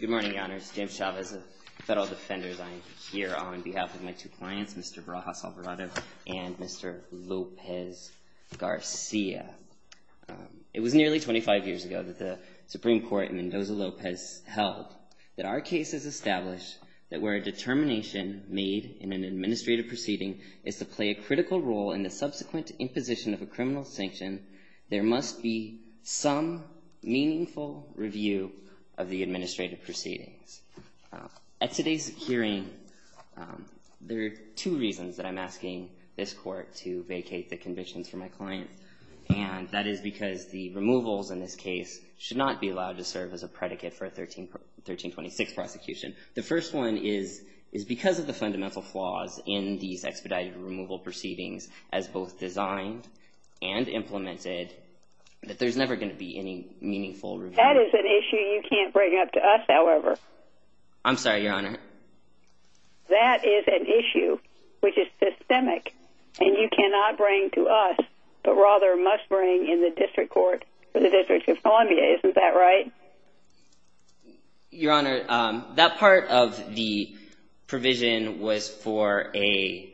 Good morning, Your Honors. James Chavez of Federal Defenders. I am here on behalf of my two clients, Mr. Barajas-Alvarado and Mr. López Garcia. It was nearly 25 years ago that the Supreme Court in Mendoza-López held that our case has established that where a determination made in an administrative proceeding is to play a critical role in the subsequent imposition of a criminal sanction, there must be some meaningful review of the administrative proceedings. At today's hearing, there are two reasons that I'm asking this Court to vacate the convictions for my client, and that is because the removals in this case should not be allowed to serve as a predicate for a 1326 prosecution. The first one is because of the fundamental flaws in these expedited removal proceedings as both designed and implemented, that there's never going to be any meaningful review. That is an issue you can't bring up to us, however. I'm sorry, Your Honor. That is an issue which is systemic, and you cannot bring to us, but rather must bring in the District Court for the District of Columbia. Isn't that right? Your Honor, that part of the provision was for a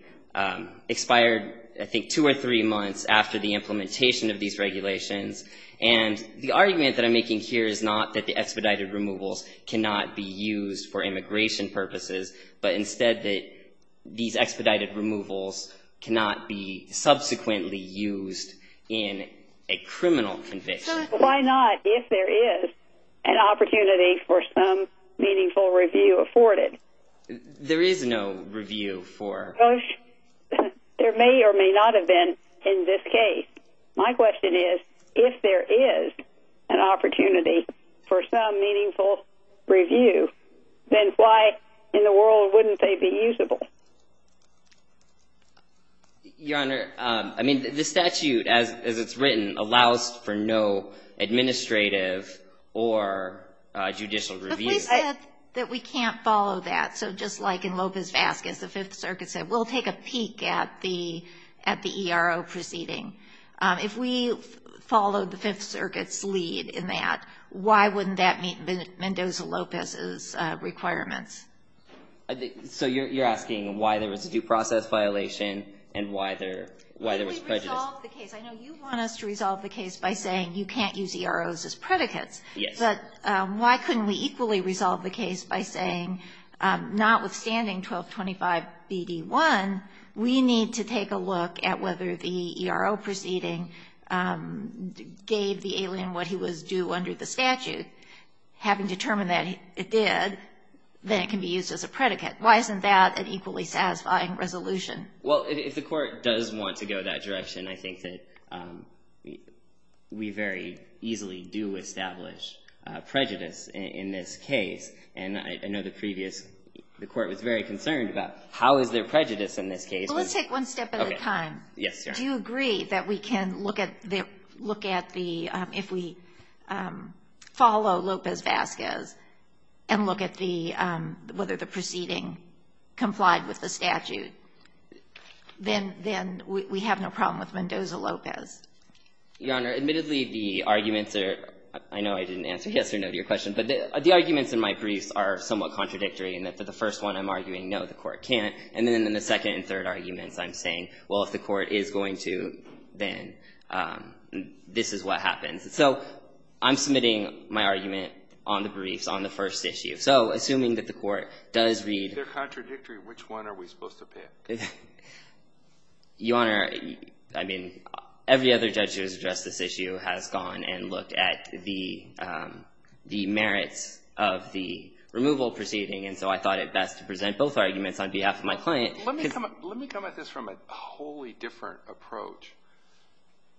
expired, I think, two or three months after the implementation of these regulations. And the argument that I'm making here is not that the expedited removals cannot be used for immigration purposes, but instead that these expedited removals cannot be subsequently used in a criminal conviction. Why not, if there is an opportunity for some meaningful review afforded? There is no review for... There may or may not have been in this case. My question is, if there is an opportunity for some meaningful review, then why in the world wouldn't they be usable? Your Honor, I mean, the statute, as it's written, allows for no administrative or judicial review. But we said that we can't follow that. So just like in Lopez-Vasquez, the Fifth Circuit said, we'll take a peek at the ERO proceeding. If we followed the Fifth Circuit's lead in that, why wouldn't that meet Mendoza-Lopez's requirements? So you're asking why there was a due process violation and why there was prejudice? Why couldn't we resolve the case? I know you want us to resolve the case by saying you can't use EROs as predicates. Yes. But why couldn't we equally resolve the case by saying, notwithstanding 1225bd1, we need to take a look at whether the ERO proceeding gave the alien what he was due under the statute. Having determined that it did, then it can be used as a predicate. Why isn't that an equally satisfying resolution? Well, if the Court does want to go that direction, I think that we very easily do establish prejudice in this case. And I know the previous – the Court was very concerned about how is there prejudice in this case. Let's take one step at a time. Okay. Yes, Your Honor. Do you agree that we can look at the – look at the – if we follow Lopez-Vazquez and look at the – whether the proceeding complied with the statute, then we have no problem with Mendoza-Lopez? Your Honor, admittedly, the arguments are – I know I didn't answer yes or no to your question, but the arguments in my briefs are somewhat contradictory in that the first one I'm arguing, no, the Court can't. And then in the second and third arguments, I'm saying, well, if the Court is going to, then this is what happens. So I'm submitting my argument on the briefs on the first issue. So assuming that the Court does read – If they're contradictory, which one are we supposed to pick? Your Honor, I mean, every other judge who has addressed this issue has gone and looked at the merits of the removal proceeding. And so I thought it best to present both arguments on behalf of my client. Let me come at this from a wholly different approach.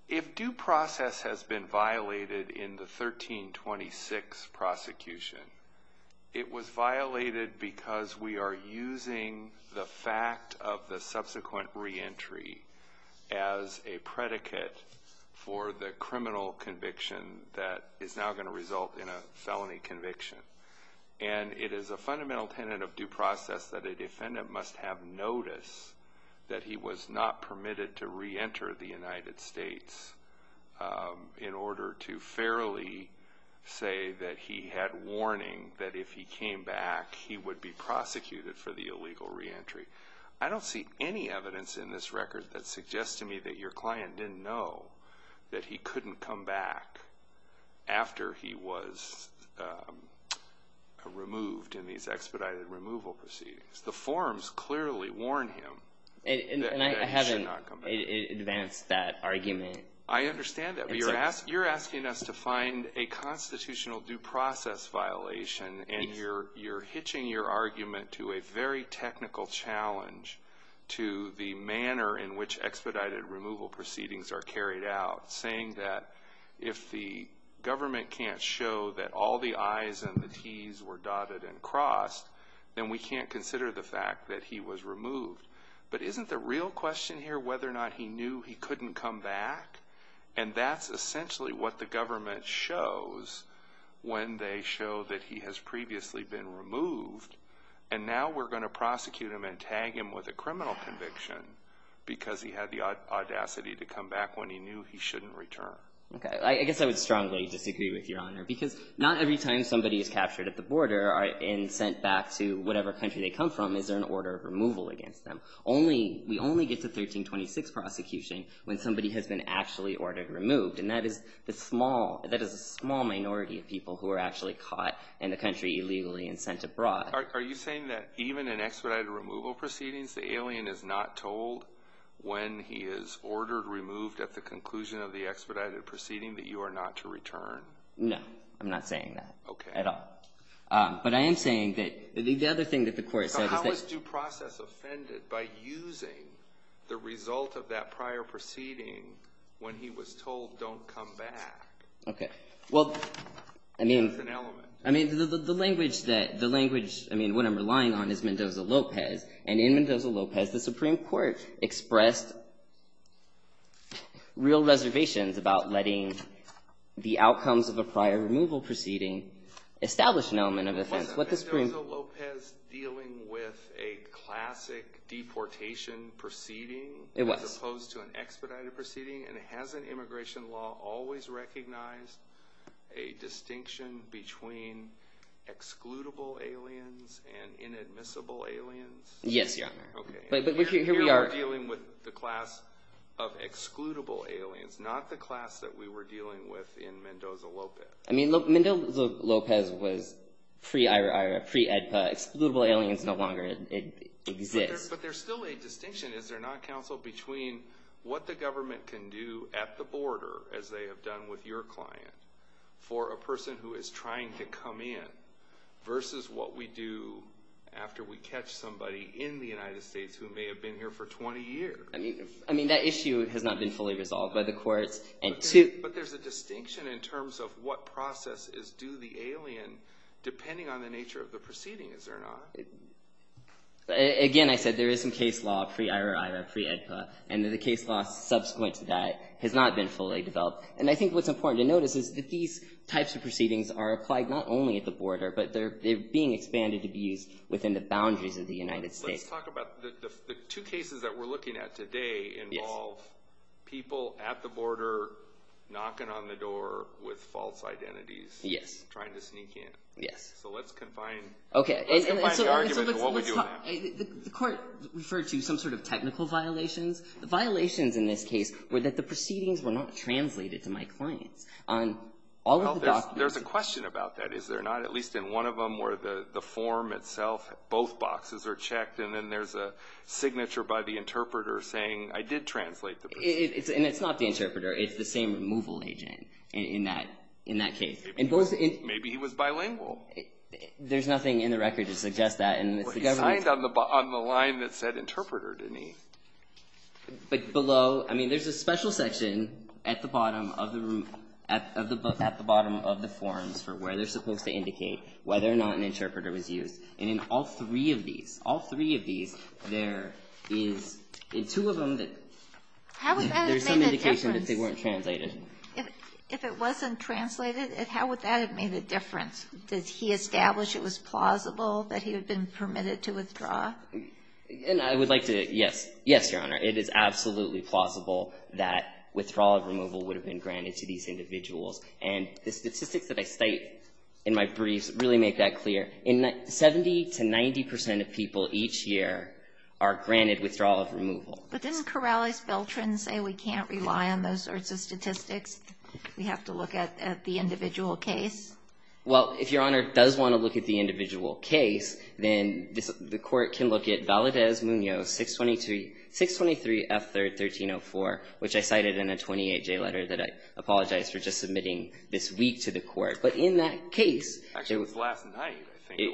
If due process has been violated in the 1326 prosecution, it was violated because we are using the fact of the subsequent reentry as a predicate for the criminal conviction that is now going to result in a felony conviction. And it is a fundamental tenet of due process that a defendant must have notice that he was not permitted to reenter the United States in order to fairly say that he had warning that if he came back, he would be prosecuted for the illegal reentry. I don't see any evidence in this record that suggests to me that your client didn't know that he couldn't come back after he was removed in these expedited removal proceedings. The forms clearly warn him that he should not come back. And I haven't advanced that argument. I understand that. But you're asking us to find a constitutional due process violation. And you're hitching your argument to a very technical challenge to the manner in which expedited removal proceedings are carried out, saying that if the government can't show that all the I's and the T's were dotted and crossed, then we can't consider the fact that he was removed. But isn't the real question here whether or not he knew he couldn't come back? And that's essentially what the government shows when they show that he has previously been removed. And now we're going to prosecute him and tag him with a criminal conviction because he had the audacity to come back when he knew he shouldn't return. Okay. I guess I would strongly disagree with Your Honor because not every time somebody is captured at the border and sent back to whatever country they come from is there an order of removal against them. We only get to 1326 prosecution when somebody has been actually ordered removed. And that is a small minority of people who are actually caught in the country illegally and sent abroad. Are you saying that even in expedited removal proceedings, the alien is not told when he is ordered removed at the conclusion of the expedited proceeding that you are not to return? No. I'm not saying that at all. Okay. But I am saying that the other thing that the court said is that he was due process offended by using the result of that prior proceeding when he was told don't come back. Okay. Well, I mean. That's an element. I mean, the language that, the language, I mean, what I'm relying on is Mendoza-Lopez. And in Mendoza-Lopez, the Supreme Court expressed real reservations about letting the outcomes of a prior removal proceeding establish an element of offense. Mendoza-Lopez dealing with a classic deportation proceeding. It was. As opposed to an expedited proceeding. And hasn't immigration law always recognized a distinction between excludable aliens and inadmissible aliens? Yes, Your Honor. Okay. Here we are dealing with the class of excludable aliens, not the class that we were dealing with in Mendoza-Lopez. I mean, Mendoza-Lopez was pre-Ira-Ira, pre-EDPA. Excludable aliens no longer exist. But there's still a distinction, is there not, counsel, between what the government can do at the border, as they have done with your client, for a person who is trying to come in versus what we do after we catch somebody in the United States who may have been here for 20 years. I mean, that issue has not been fully resolved by the courts. But there's a distinction in terms of what process is due the alien, depending on the nature of the proceedings, is there not? Again, I said there is some case law pre-Ira-Ira, pre-EDPA, and the case law subsequent to that has not been fully developed. And I think what's important to notice is that these types of proceedings are applied not only at the border, but they're being expanded to be used within the boundaries of the United States. Let's talk about the two cases that we're looking at today involve people at the border knocking on the door with false identities. Yes. Trying to sneak in. Yes. So let's confine the argument to what we do now. The court referred to some sort of technical violations. The violations in this case were that the proceedings were not translated to my clients. There's a question about that, is there not? At least in one of them where the form itself, both boxes are checked, and then there's a signature by the interpreter saying, I did translate the proceedings. And it's not the interpreter. It's the same removal agent in that case. Maybe he was bilingual. There's nothing in the record to suggest that. But he signed on the line that said interpreter, didn't he? But below, I mean, there's a special section at the bottom of the forms for where they're supposed to indicate whether or not an interpreter was used. And in all three of these, all three of these, there is in two of them that there's some indication that they weren't translated. If it wasn't translated, how would that have made a difference? Did he establish it was plausible that he had been permitted to withdraw? And I would like to, yes. Yes, Your Honor. It is absolutely plausible that withdrawal of removal would have been granted to these individuals. And the statistics that I state in my briefs really make that clear. 70 to 90 percent of people each year are granted withdrawal of removal. But doesn't Corrales-Beltran say we can't rely on those sorts of statistics? We have to look at the individual case? Well, if Your Honor does want to look at the individual case, then the court can look at Valadez-Munoz 623F3-1304, which I cited in a 28-J letter that I apologize for just submitting this week to the court. But in that case, it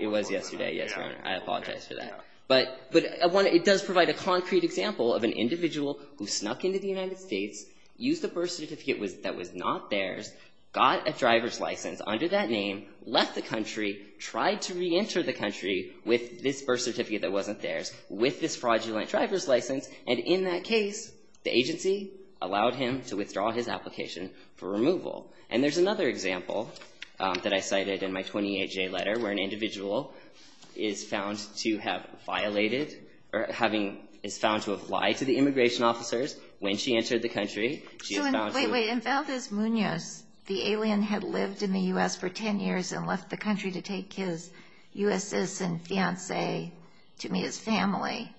was yesterday. Yes, Your Honor. I apologize for that. But it does provide a concrete example of an individual who snuck into the United States, used a birth certificate that was not theirs, got a driver's license under that name, left the country, tried to reenter the country with this birth certificate that wasn't theirs, with this fraudulent driver's license. And in that case, the agency allowed him to withdraw his application for removal. And there's another example that I cited in my 28-J letter where an individual is found to have violated or is found to have lied to the immigration officers when she entered the country. Wait, wait. In Valadez-Munoz, the alien had lived in the U.S. for 10 years and left the country to take his U.S. citizen fiancé to meet his family.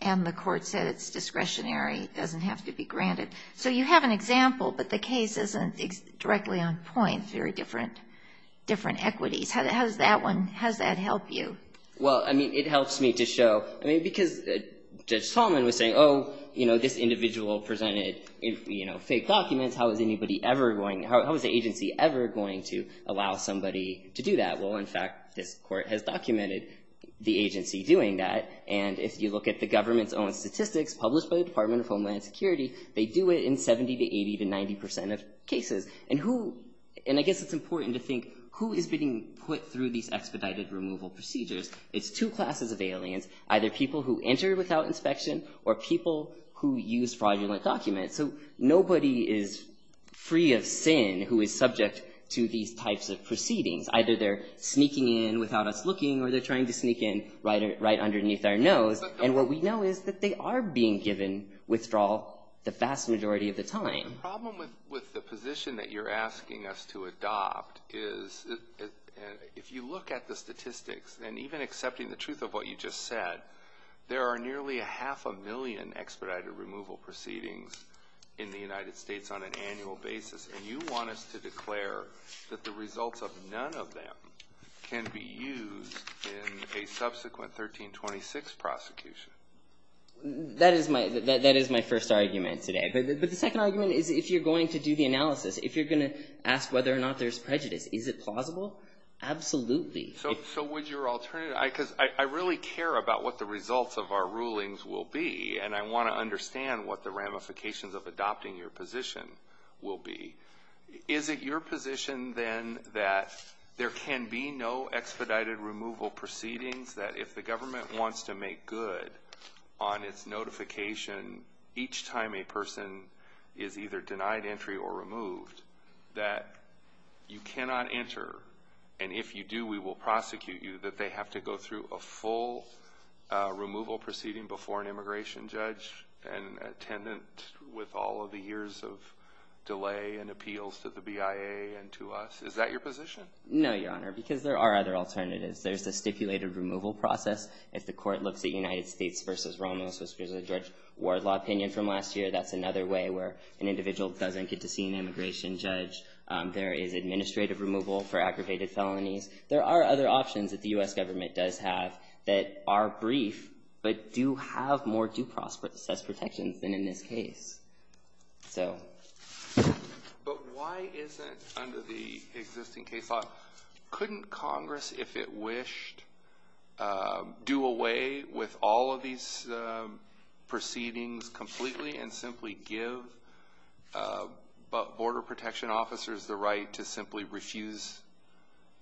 And the court said it's discretionary. It doesn't have to be granted. So you have an example, but the case isn't directly on point. Very different equities. How does that help you? Well, I mean, it helps me to show, I mean, because Judge Solomon was saying, oh, you know, this individual presented, you know, fake documents. How is anybody ever going to, how is the agency ever going to allow somebody to do that? Well, in fact, this court has documented the agency doing that. And if you look at the government's own statistics published by the Department of Homeland Security, they do it in 70% to 80% to 90% of cases. And who, and I guess it's important to think who is being put through these expedited removal procedures. It's two classes of aliens, either people who enter without inspection or people who use fraudulent documents. So nobody is free of sin who is subject to these types of proceedings. Either they're sneaking in without us looking or they're trying to sneak in right underneath our nose. And what we know is that they are being given withdrawal the vast majority of the time. The problem with the position that you're asking us to adopt is if you look at the statistics and even accepting the truth of what you just said, there are nearly a half a million expedited removal proceedings in the United States on an annual basis. And you want us to declare that the results of none of them can be used in a subsequent 1326 prosecution. That is my first argument today. But the second argument is if you're going to do the analysis, if you're going to ask whether or not there's prejudice, is it plausible? Absolutely. So would your alternative, because I really care about what the results of our rulings will be, and I want to understand what the ramifications of adopting your position will be. Is it your position then that there can be no expedited removal proceedings, that if the government wants to make good on its notification each time a person is either denied entry or removed, that you cannot enter and if you do we will prosecute you, that they have to go through a full removal proceeding before an immigration judge and a tenant with all of the years of delay and appeals to the BIA and to us? Is that your position? No, Your Honor, because there are other alternatives. There's the stipulated removal process. If the court looks at United States v. Romulus v. George Ward law opinion from last year, that's another way where an individual doesn't get to see an immigration judge. There is administrative removal for aggravated felonies. There are other options that the U.S. government does have that are brief but do have more due process protections than in this case. But why is it under the existing case law, couldn't Congress, if it wished, do away with all of these proceedings completely and simply give border protection officers the right to simply refuse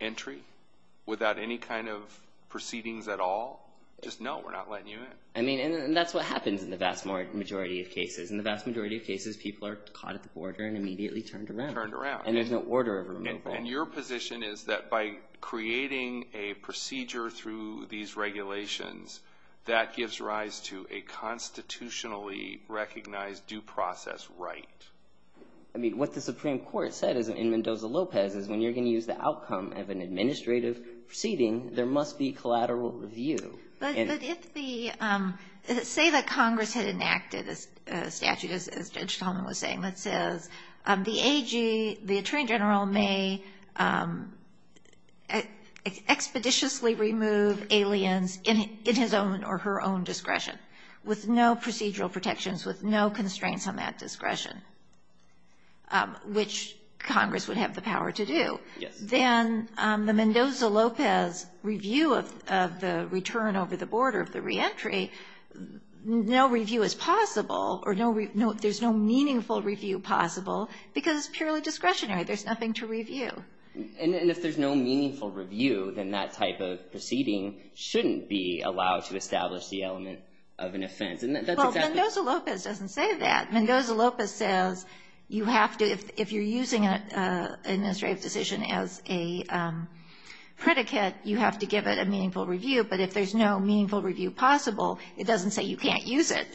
entry without any kind of proceedings at all? Just no, we're not letting you in. I mean, and that's what happens in the vast majority of cases. In the vast majority of cases, people are caught at the border and immediately turned around. Turned around. And there's no order of removal. And your position is that by creating a procedure through these regulations, that gives rise to a constitutionally recognized due process right. I mean, what the Supreme Court said in Mendoza-Lopez is when you're going to use the outcome of an administrative proceeding, there must be collateral review. But if the, say that Congress had enacted a statute, as Judge Tolman was saying, that says the AG, the Attorney General may expeditiously remove aliens in his own or her own discretion with no procedural protections, with no constraints on that discretion, which Congress would have the power to do. Yes. Then the Mendoza-Lopez review of the return over the border of the reentry, no review is possible, or there's no meaningful review possible, because it's purely discretionary. There's nothing to review. And if there's no meaningful review, then that type of proceeding shouldn't be allowed to establish the element of an offense. And that's exactly right. Well, Mendoza-Lopez doesn't say that. Mendoza-Lopez says you have to, if you're using an administrative decision as a predicate, you have to give it a meaningful review. But if there's no meaningful review possible, it doesn't say you can't use it.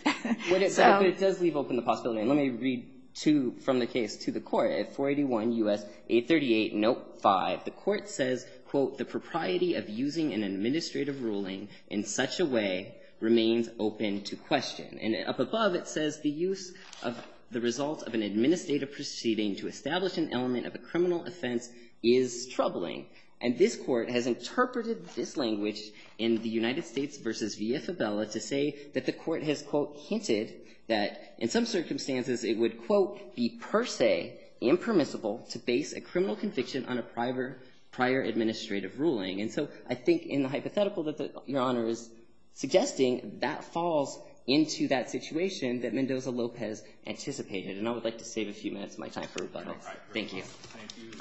But it does leave open the possibility. And let me read two from the case to the Court. At 481 U.S. 838 Note 5, the Court says, quote, the propriety of using an administrative ruling in such a way remains open to question. And up above, it says the use of the result of an administrative proceeding to establish an element of a criminal offense is troubling. And this Court has interpreted this language in the United States v. Villafibella to say that the Court has, quote, hinted that in some circumstances it would, quote, be per se impermissible to base a criminal conviction on a prior administrative ruling. And so I think in the hypothetical that Your Honor is suggesting, that falls into that situation that Mendoza-Lopez anticipated. And I would like to save a few minutes of my time for rebuttals. Thank you. Thank you.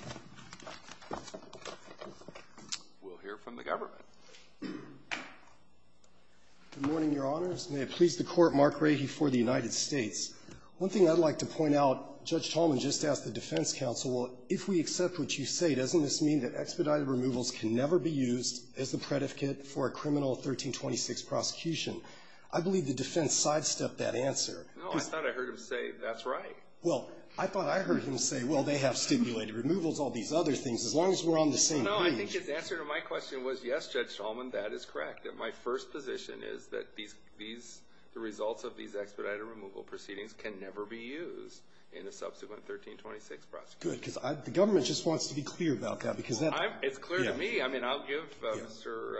We'll hear from the government. Good morning, Your Honors. May it please the Court. Mark Rahey for the United States. One thing I'd like to point out, Judge Tolman just asked the defense counsel, well, if we accept what you say, doesn't this mean that expedited removals can never be used as the predicate for a criminal 1326 prosecution? I believe the defense sidestepped that answer. No, I thought I heard him say that's right. Well, I thought I heard him say, well, they have stimulated removals, all these other things, as long as we're on the same page. No, I think his answer to my question was, yes, Judge Tolman, that is correct, that my first position is that these results of these expedited removal proceedings can never be used in a subsequent 1326 prosecution. Good, because the government just wants to be clear about that, because that is clear to me. I mean, I'll give Mr.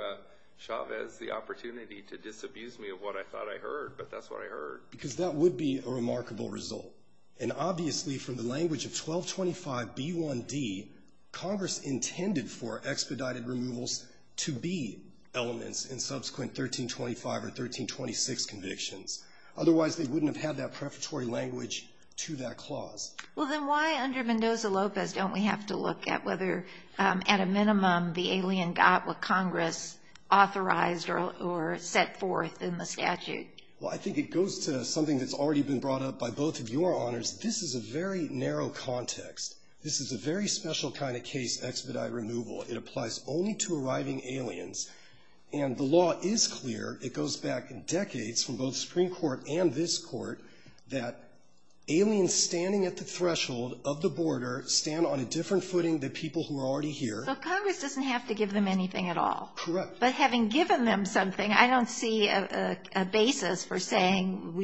Chavez the opportunity to disabuse me of what I thought I heard, but that's what I heard. Because that would be a remarkable result. And obviously, from the language of 1225b1d, Congress intended for expedited removals to be elements in subsequent 1325 or 1326 convictions. Otherwise, they wouldn't have had that prefatory language to that clause. Well, then why under Mendoza-Lopez don't we have to look at whether, at a minimum, the alien got what Congress authorized or set forth in the statute? Well, I think it goes to something that's already been brought up by both of your honors. This is a very narrow context. This is a very special kind of case, expedited removal. It applies only to arriving aliens. And the law is clear. It goes back decades from both the Supreme Court and this Court that aliens standing at the threshold of the border stand on a different footing than people who are already here. So Congress doesn't have to give them anything at all. Correct. But having given them something, I don't see a basis for saying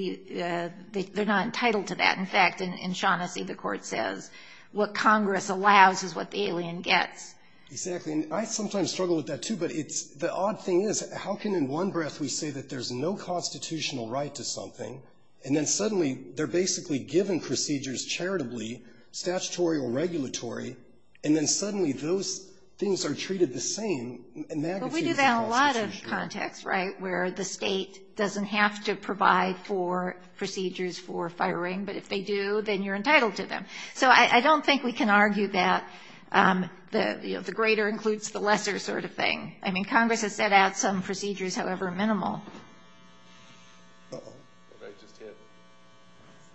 they're not entitled to that. In fact, in Shaughnessy, the Court says what Congress allows is what the alien gets. Exactly. And I sometimes struggle with that, too. But the odd thing is, how can in one breath we say that there's no constitutional right to something? And then suddenly, they're basically given procedures charitably, statutory or regulatory, and then suddenly those things are treated the same in magnitudes of the Constitution. Well, we do that in a lot of contexts, right, where the State doesn't have to provide for procedures for firing, but if they do, then you're entitled to them. So I don't think we can argue that the greater includes the lesser sort of thing. I mean, Congress has set out some procedures, however minimal. Uh-oh. What did I just hit? It's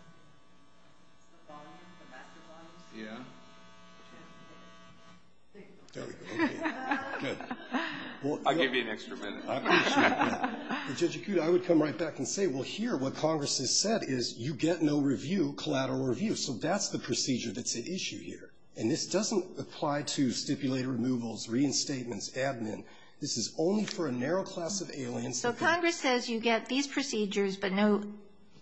the volume, the master volume. Yeah. There we go. Okay. Good. I'll give you an extra minute. I appreciate that. Judge Acuda, I would come right back and say, well, here, what Congress has said is you get no review, collateral review. So that's the procedure that's at issue here. And this doesn't apply to stipulated removals, reinstatements, admin. This is only for a narrow class of aliens. So Congress says you get these procedures, but no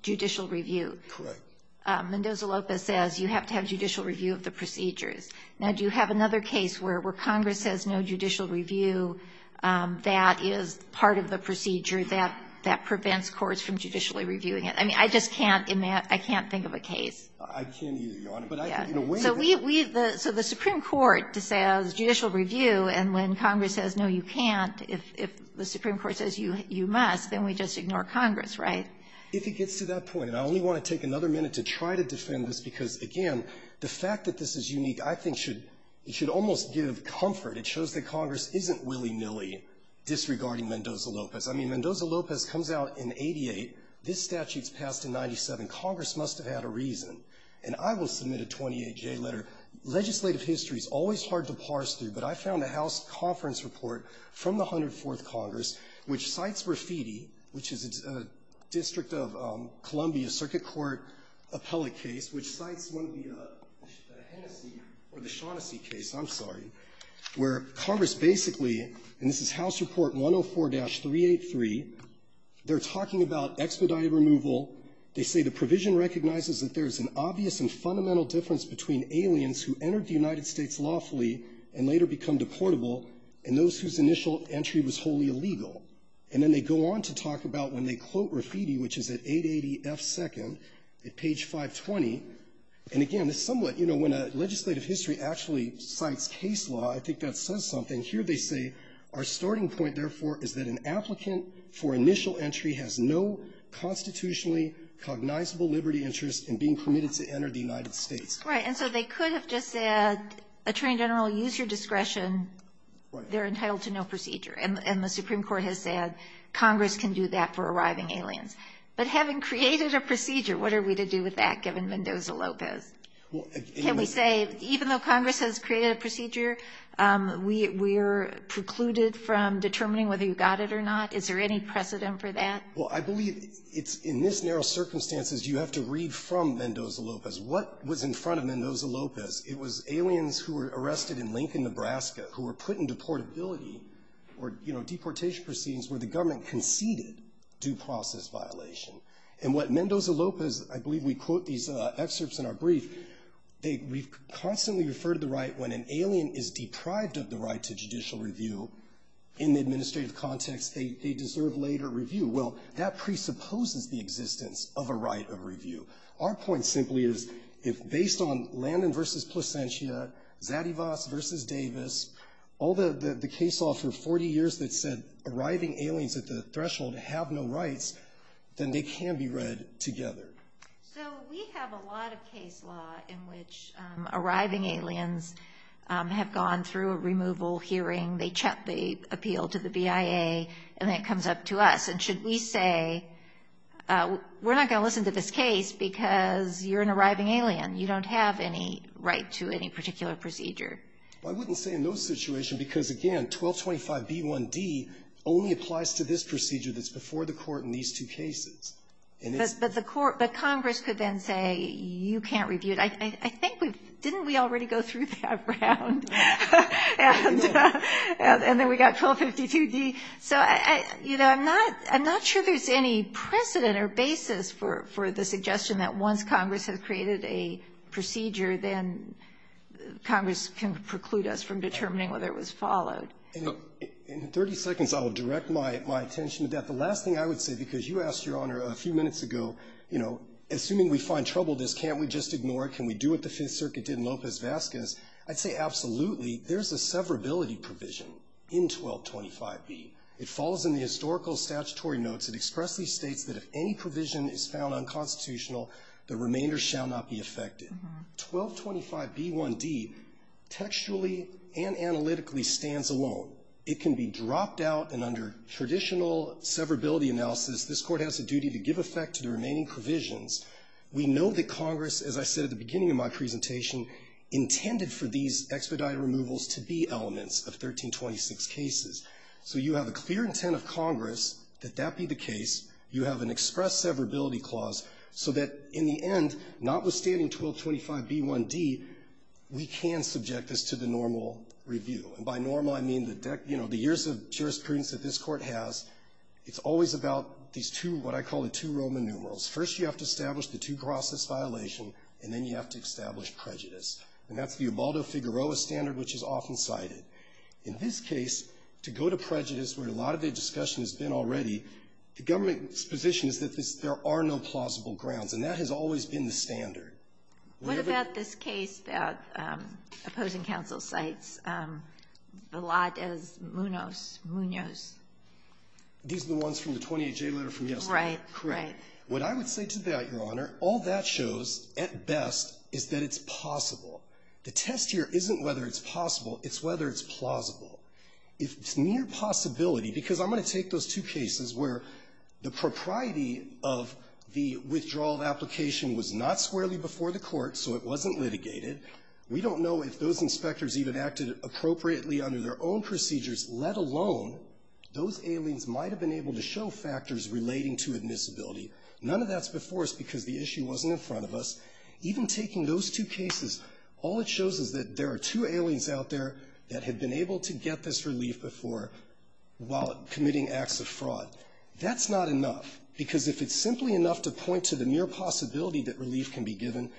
judicial review. Correct. Mendoza-Lopez says you have to have judicial review of the procedures. Now, do you have another case where Congress says no judicial review, that is part of the procedure that prevents courts from judicially reviewing it? I mean, I just can't think of a case. I can't either, Your Honor. So the Supreme Court says judicial review, and when Congress says no you can't, if the Supreme Court says you must, then we just ignore Congress, right? If it gets to that point, and I only want to take another minute to try to defend this, because, again, the fact that this is unique I think should almost give comfort. It shows that Congress isn't willy-nilly disregarding Mendoza-Lopez. I mean, Mendoza-Lopez comes out in 88. This statute's passed in 97. Congress must have had a reason. And I will submit a 28-J letter. Legislative history is always hard to parse through, but I found a House conference report from the 104th Congress which cites Rafiti, which is a District of Columbia Circuit Court appellate case, which cites one of the Hennessy or the Shaughnessy case, I'm sorry, where Congress basically, and this is House Report 104-383, they're talking about expedited removal. They say the provision recognizes that there is an obvious and fundamental difference between aliens who entered the United States lawfully and later become deportable and those whose initial entry was wholly illegal. And then they go on to talk about when they quote Rafiti, which is at 880 F. 2nd, at page 520. And, again, this is somewhat, you know, when a legislative history actually cites case law, I think that says something. Here they say, our starting point, therefore, is that an applicant for initial entry has no constitutionally cognizable liberty interest in being permitted to enter the United States. Right. And so they could have just said, Attorney General, use your discretion. They're entitled to no procedure. And the Supreme Court has said Congress can do that for arriving aliens. But having created a procedure, what are we to do with that, given Mendoza-Lopez? Can we say, even though Congress has created a procedure, we are precluded from determining whether you got it or not? Is there any precedent for that? Well, I believe it's in this narrow circumstances you have to read from Mendoza-Lopez. What was in front of Mendoza-Lopez? It was aliens who were arrested in Lincoln, Nebraska, who were put in deportability or, you know, deportation proceedings where the government conceded due process violation. And what Mendoza-Lopez, I believe we quote these excerpts in our brief, we've constantly referred to the right when an alien is deprived of the right to judicial review in the administrative context, they deserve later review. Well, that presupposes the existence of a right of review. Our point simply is, if based on Landon versus Placentia, Zadivas versus Davis, all the case law for 40 years that said arriving aliens at the threshold have no rights, then they can be read together. So we have a lot of case law in which arriving aliens have gone through a removal hearing, they appeal to the BIA, and then it comes up to us. And should we say, we're not going to listen to this case because you're an arriving alien, you don't have any right to any particular procedure? I wouldn't say in those situations because, again, 1225b1d only applies to this procedure that's before the court in these two cases. But the court, but Congress could then say you can't review it. I think we've, didn't we already go through that round? And then we got 1252d. So, you know, I'm not sure there's any precedent or basis for the suggestion that once Congress has created a procedure, then Congress can preclude us from determining whether it was followed. In 30 seconds, I will direct my attention to that. The last thing I would say, because you asked, Your Honor, a few minutes ago, you know, assuming we find trouble, can't we just ignore it? Can we do what the Fifth Circuit did in Lopez-Vazquez? I'd say absolutely. There's a severability provision in 1225b. It follows in the historical statutory notes. It expressly states that if any provision is found unconstitutional, the remainder shall not be affected. 1225b1d textually and analytically stands alone. It can be dropped out, and under traditional severability analysis, this Court has a duty to give effect to the remaining provisions. We know that Congress, as I said at the beginning of my presentation, intended for these expedited removals to be elements of 1326 cases. So you have a clear intent of Congress that that be the case. You have an express severability clause so that in the end, notwithstanding 1225b1d, we can subject this to the normal review. And by normal, I mean, you know, the years of jurisprudence that this Court has. It's always about these two, what I call the two Roman numerals. First, you have to establish the two-crosses violation, and then you have to establish prejudice. And that's the Ubaldo-Figueroa standard, which is often cited. In this case, to go to prejudice, where a lot of the discussion has been already, the government's position is that there are no plausible grounds. And that has always been the standard. What about this case that opposing counsel cites, Villadas-Munoz? These are the ones from the 28J letter from yesterday. Right. What I would say to that, Your Honor, all that shows, at best, is that it's possible. The test here isn't whether it's possible. It's whether it's plausible. If it's near possibility, because I'm going to take those two cases where the propriety of the withdrawal of application was not squarely before the Court, so it wasn't litigated. We don't know if those inspectors even acted appropriately under their own procedures, let alone those aliens might have been able to show factors relating to admissibility. None of that's before us because the issue wasn't in front of us. Even taking those two cases, all it shows is that there are two aliens out there that have been able to get this relief before while committing acts of fraud. That's not enough, because if it's simply enough to point to the near possibility that relief can be given,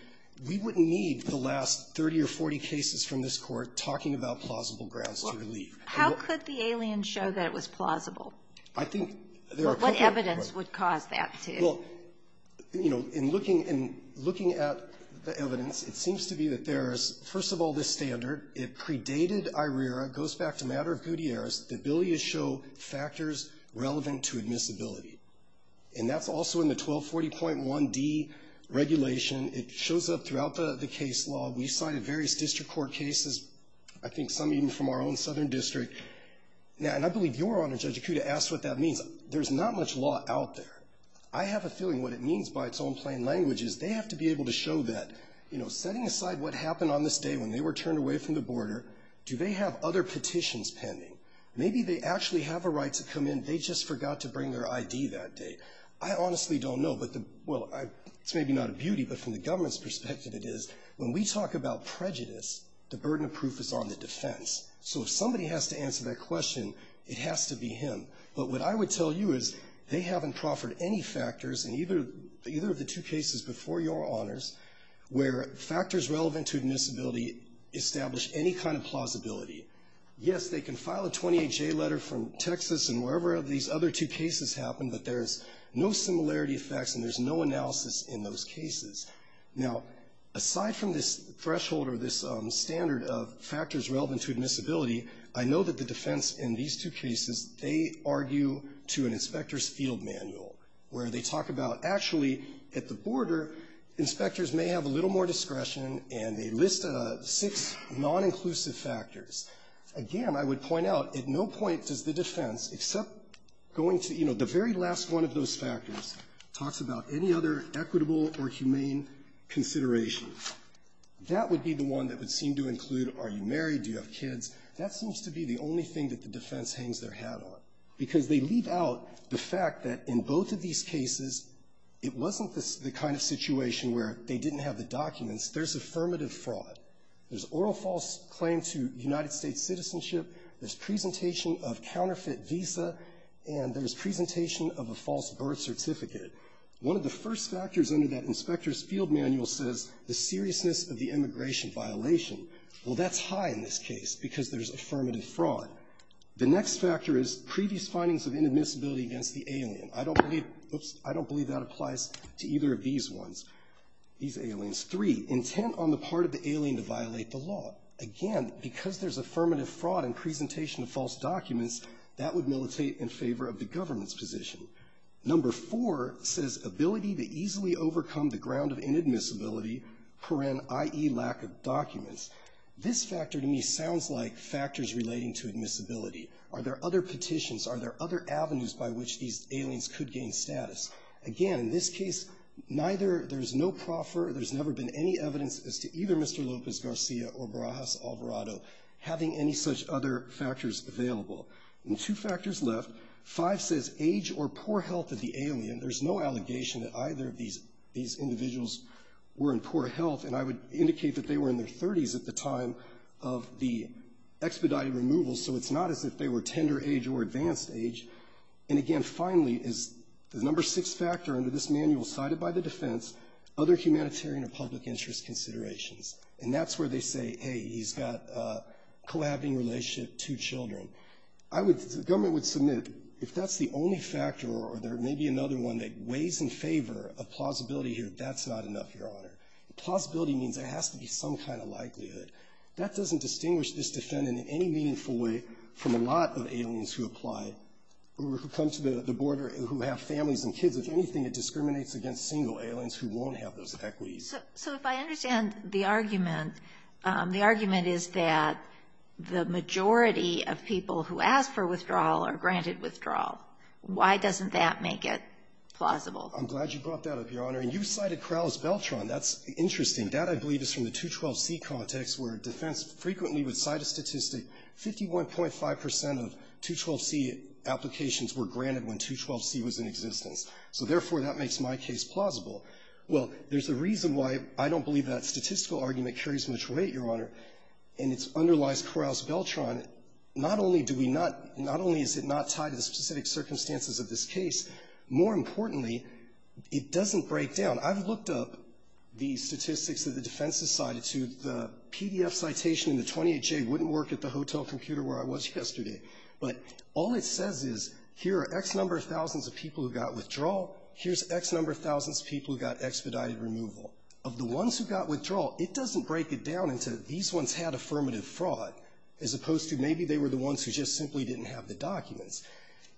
we wouldn't need the last 30 or 40 cases from this Court talking about plausible grounds to relief. How could the aliens show that it was plausible? I think there are a couple of different ways. What evidence would cause that to? Well, you know, in looking at the evidence, it seems to be that there is, first of all, this standard. It predated IRERA. It goes back to the matter of Gutierrez. The ability to show factors relevant to admissibility. And that's also in the 1240.1d regulation. It shows up throughout the case law. We cited various district court cases. I think some even from our own southern district. And I believe your Honor, Judge Ikuda, asked what that means. There's not much law out there. I have a feeling what it means by its own plain language is they have to be able to show that, you know, setting aside what happened on this day when they were turned away from the border, do they have other petitions pending? Maybe they actually have a right to come in. They just forgot to bring their ID that day. I honestly don't know. Well, it's maybe not a beauty, but from the government's perspective it is. When we talk about prejudice, the burden of proof is on the defense. So if somebody has to answer that question, it has to be him. But what I would tell you is they haven't proffered any factors in either of the two cases before your Honors where factors relevant to admissibility establish any kind of plausibility. Yes, they can file a 28J letter from Texas and wherever these other two cases happen, but there's no similarity of facts and there's no analysis in those cases. Now, aside from this threshold or this standard of factors relevant to admissibility, I know that the defense in these two cases, they argue to an inspector's field manual where they talk about actually at the border, inspectors may have a little more discretion and they list six non-inclusive factors. Again, I would point out at no point does the defense, except going to, you know, the very last one of those factors talks about any other equitable or humane consideration. That would be the one that would seem to include are you married, do you have kids. That seems to be the only thing that the defense hangs their hat on, because they leave out the fact that in both of these cases, it wasn't the kind of situation where they didn't have the documents. There's affirmative fraud. There's oral false claim to United States citizenship. There's presentation of counterfeit visa. And there's presentation of a false birth certificate. One of the first factors under that inspector's field manual says the seriousness of the immigration violation. Well, that's high in this case because there's affirmative fraud. The next factor is previous findings of inadmissibility against the alien. I don't believe that applies to either of these ones, these aliens. Three, intent on the part of the alien to violate the law. Again, because there's affirmative fraud and presentation of false documents, that would militate in favor of the government's position. Number four says ability to easily overcome the ground of inadmissibility, i.e., lack of documents. This factor to me sounds like factors relating to admissibility. Are there other petitions? Are there other avenues by which these aliens could gain status? Again, in this case, there's no proffer. There's never been any evidence as to either Mr. Lopez Garcia or Barajas Alvarado having any such other factors available. And two factors left. Five says age or poor health of the alien. There's no allegation that either of these individuals were in poor health, and I would indicate that they were in their 30s at the time of the expedited removal, so it's not as if they were tender age or advanced age. And again, finally, is the number six factor under this manual cited by the defense, other humanitarian or public interest considerations. And that's where they say, hey, he's got a cohabiting relationship, two children. The government would submit, if that's the only factor or there may be another one that weighs in favor of plausibility here, that's not enough, Your Honor. Plausibility means there has to be some kind of likelihood. That doesn't distinguish this defendant in any meaningful way from a lot of aliens who apply or who come to the border who have families and kids. If anything, it discriminates against single aliens who won't have those equities. So if I understand the argument, the argument is that the majority of people who ask for withdrawal are granted withdrawal. Why doesn't that make it plausible? I'm glad you brought that up, Your Honor. And you cited Corrales-Beltran. That's interesting. That, I believe, is from the 212C context where defense frequently would cite a statistic 51.5 percent of 212C applications were granted when 212C was in existence. So therefore, that makes my case plausible. Well, there's a reason why I don't believe that statistical argument carries much weight, Your Honor, and it's underlies Corrales-Beltran. Not only do we not — not only is it not tied to the specific circumstances of this case, more importantly, it doesn't break down. I've looked up the statistics that the defense has cited to. The PDF citation in the 28J wouldn't work at the hotel computer where I was yesterday. But all it says is here are X number of thousands of people who got withdrawal. Here's X number of thousands of people who got expedited removal. Of the ones who got withdrawal, it doesn't break it down into these ones had affirmative fraud, as opposed to maybe they were the ones who just simply didn't have the documents.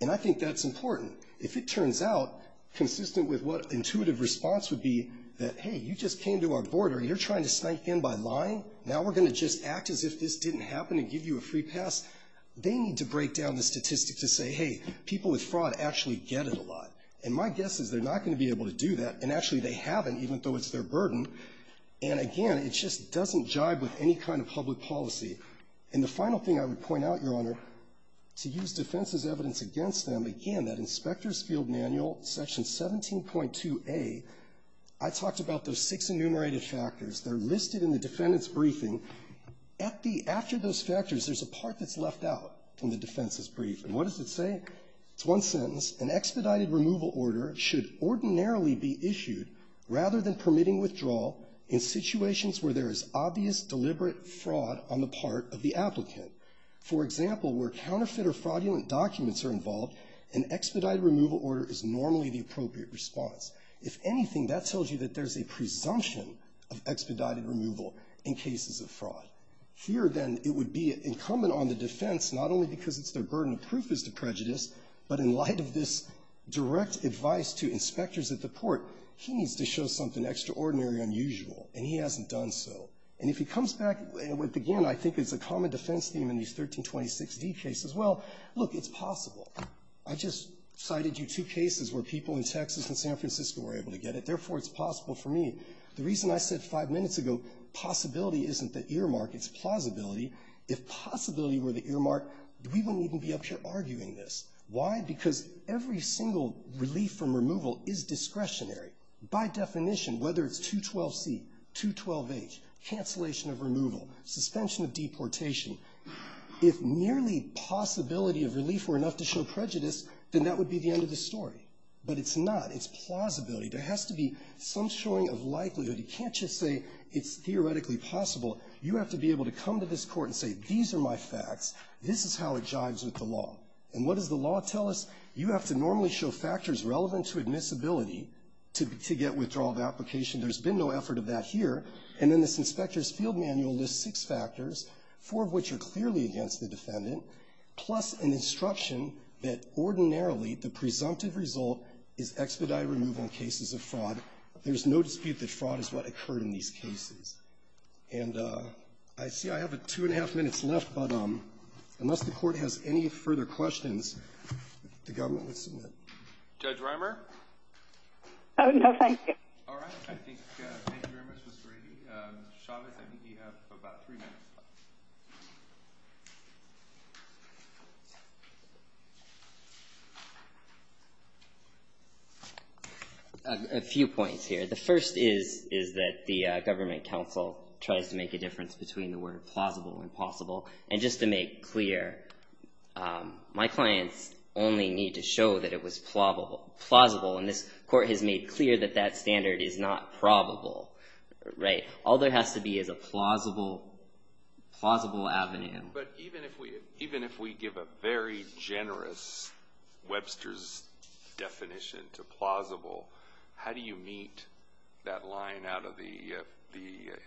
And I think that's important. If it turns out, consistent with what intuitive response would be that, hey, you just came to our border. You're trying to snipe in by lying. Now we're going to just act as if this didn't happen and give you a free pass. They need to break down the statistics to say, hey, people with fraud actually get it a lot. And my guess is they're not going to be able to do that. And actually they haven't, even though it's their burden. And again, it just doesn't jibe with any kind of public policy. And the final thing I would point out, Your Honor, to use defense's evidence against them, again, that Inspector's Field Manual, Section 17.2a, I talked about those six enumerated factors. They're listed in the defendant's briefing. At the end, after those factors, there's a part that's left out in the defense's briefing. What does it say? It's one sentence. An expedited removal order should ordinarily be issued rather than permitting withdrawal in situations where there is obvious, deliberate fraud on the part of the applicant. For example, where counterfeit or fraudulent documents are involved, an expedited removal order is normally the appropriate response. If anything, that tells you that there's a presumption of expedited removal in cases of fraud. Here, then, it would be incumbent on the defense, not only because it's their burden of proof as to prejudice, but in light of this direct advice to inspectors at the court, he needs to show something extraordinary unusual, and he hasn't done so. And if he comes back with, again, I think it's a common defense theme in these 1326d cases, well, look, it's possible. I just cited you two cases where people in Texas and San Francisco were able to get it. Therefore, it's possible for me. The reason I said five minutes ago possibility isn't the earmark, it's plausibility. If possibility were the earmark, we wouldn't even be up here arguing this. Why? Because every single relief from removal is discretionary. By definition, whether it's 212C, 212H, cancellation of removal, suspension of deportation, if merely possibility of relief were enough to show prejudice, then that would be the end of the story. But it's not. It's plausibility. There has to be some showing of likelihood. You can't just say it's theoretically possible. You have to be able to come to this Court and say, these are my facts. This is how it jives with the law. And what does the law tell us? You have to normally show factors relevant to admissibility to get withdrawal of application. There's been no effort of that here. And then this inspector's field manual lists six factors, four of which are clearly against the defendant, plus an instruction that ordinarily the presumptive result is expedited removal in cases of fraud. There's no dispute that fraud is what occurred in these cases. And I see I have two-and-a-half minutes left, but unless the Court has any further questions, the government would submit. Roberts. Oh, no, thank you. All right. Thank you very much, Ms. Brady. Mr. Chavez, I think you have about three minutes left. A few points here. The first is that the government counsel tries to make a difference between the word plausible and possible. And just to make clear, my clients only need to show that it was plausible. And this Court has made clear that that standard is not probable, right? All there has to be is a plausible avenue. But even if we give a very generous Webster's definition to plausible, how do you meet that line out of the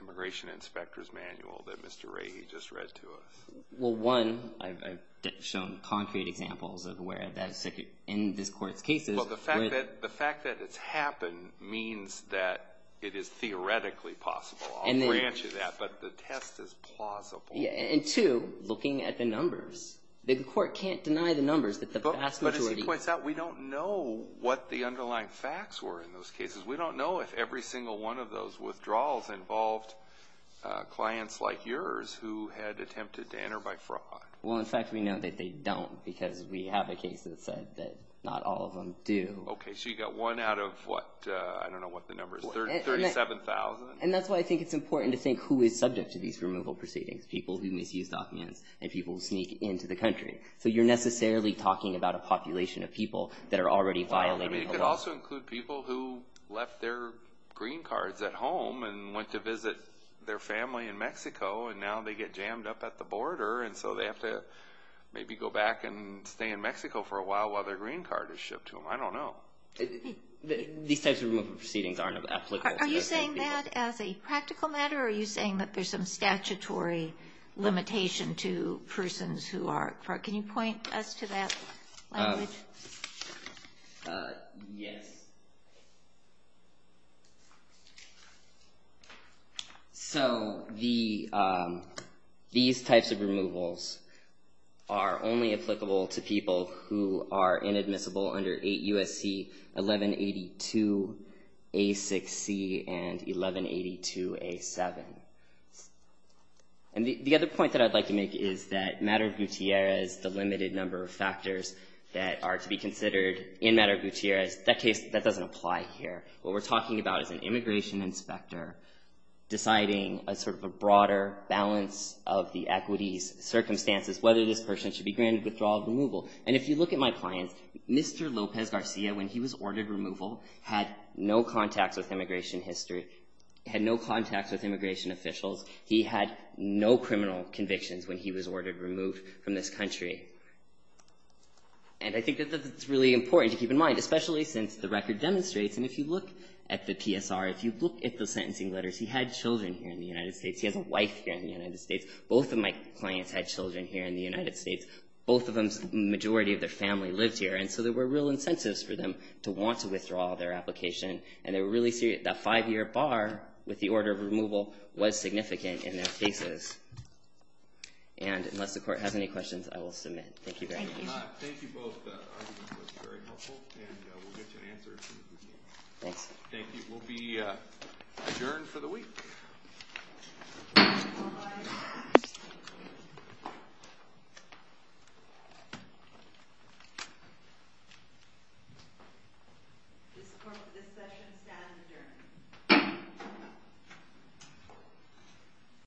immigration inspector's manual that Mr. Rahe just read to us? Well, one, I've shown concrete examples of where that's in this Court's cases. Well, the fact that it's happened means that it is theoretically possible. I'll grant you that, but the test is plausible. And two, looking at the numbers, the Court can't deny the numbers that the vast majority But as he points out, we don't know what the underlying facts were in those cases. We don't know if every single one of those withdrawals involved clients like yours who had attempted to enter by fraud. Well, in fact, we know that they don't because we have a case that said that not all of them do. Okay, so you've got one out of, what, I don't know what the number is, 37,000? And that's why I think it's important to think who is subject to these removal proceedings, people who misuse documents and people who sneak into the country. So you're necessarily talking about a population of people that are already violating the law. Well, I mean, it could also include people who left their green cards at home and went to visit their family in Mexico, and now they get jammed up at the border, and so they have to maybe go back and stay in Mexico for a while while their green card is shipped to them. I don't know. These types of removal proceedings aren't applicable to the rest of the people. Are you saying that as a practical matter, or are you saying that there's some statutory limitation to persons who are, can you point us to that language? Yes. So these types of removals are only applicable to people who are inadmissible under 8 U.S.C. 1182A6C and 1182A7. And the other point that I'd like to make is that Madre Gutierrez, the limited number of factors that are to be considered in Madre Gutierrez, that doesn't apply here. What we're talking about is an immigration inspector deciding a sort of a broader balance of the equities, circumstances, whether this person should be granted withdrawal or removal. And if you look at my clients, Mr. Lopez Garcia, when he was ordered removal, had no contacts with immigration history, had no contacts with immigration officials. He had no criminal convictions when he was ordered removed from this country. And I think that that's really important to keep in mind, especially since the record demonstrates, and if you look at the PSR, if you look at the sentencing letters, he had children here in the United States. He has a wife here in the United States. Both of my clients had children here in the United States. Both of them, the majority of their family lived here. And so there were real incentives for them to want to withdraw their application. And they were really serious. That five-year bar with the order of removal was significant in their cases. And unless the Court has any questions, I will submit. Thank you very much. Thank you. Thank you both. That was very helpful. And we'll get you an answer as soon as we can. Thanks. Thank you. We'll be adjourned for the week. Thank you. Thank you.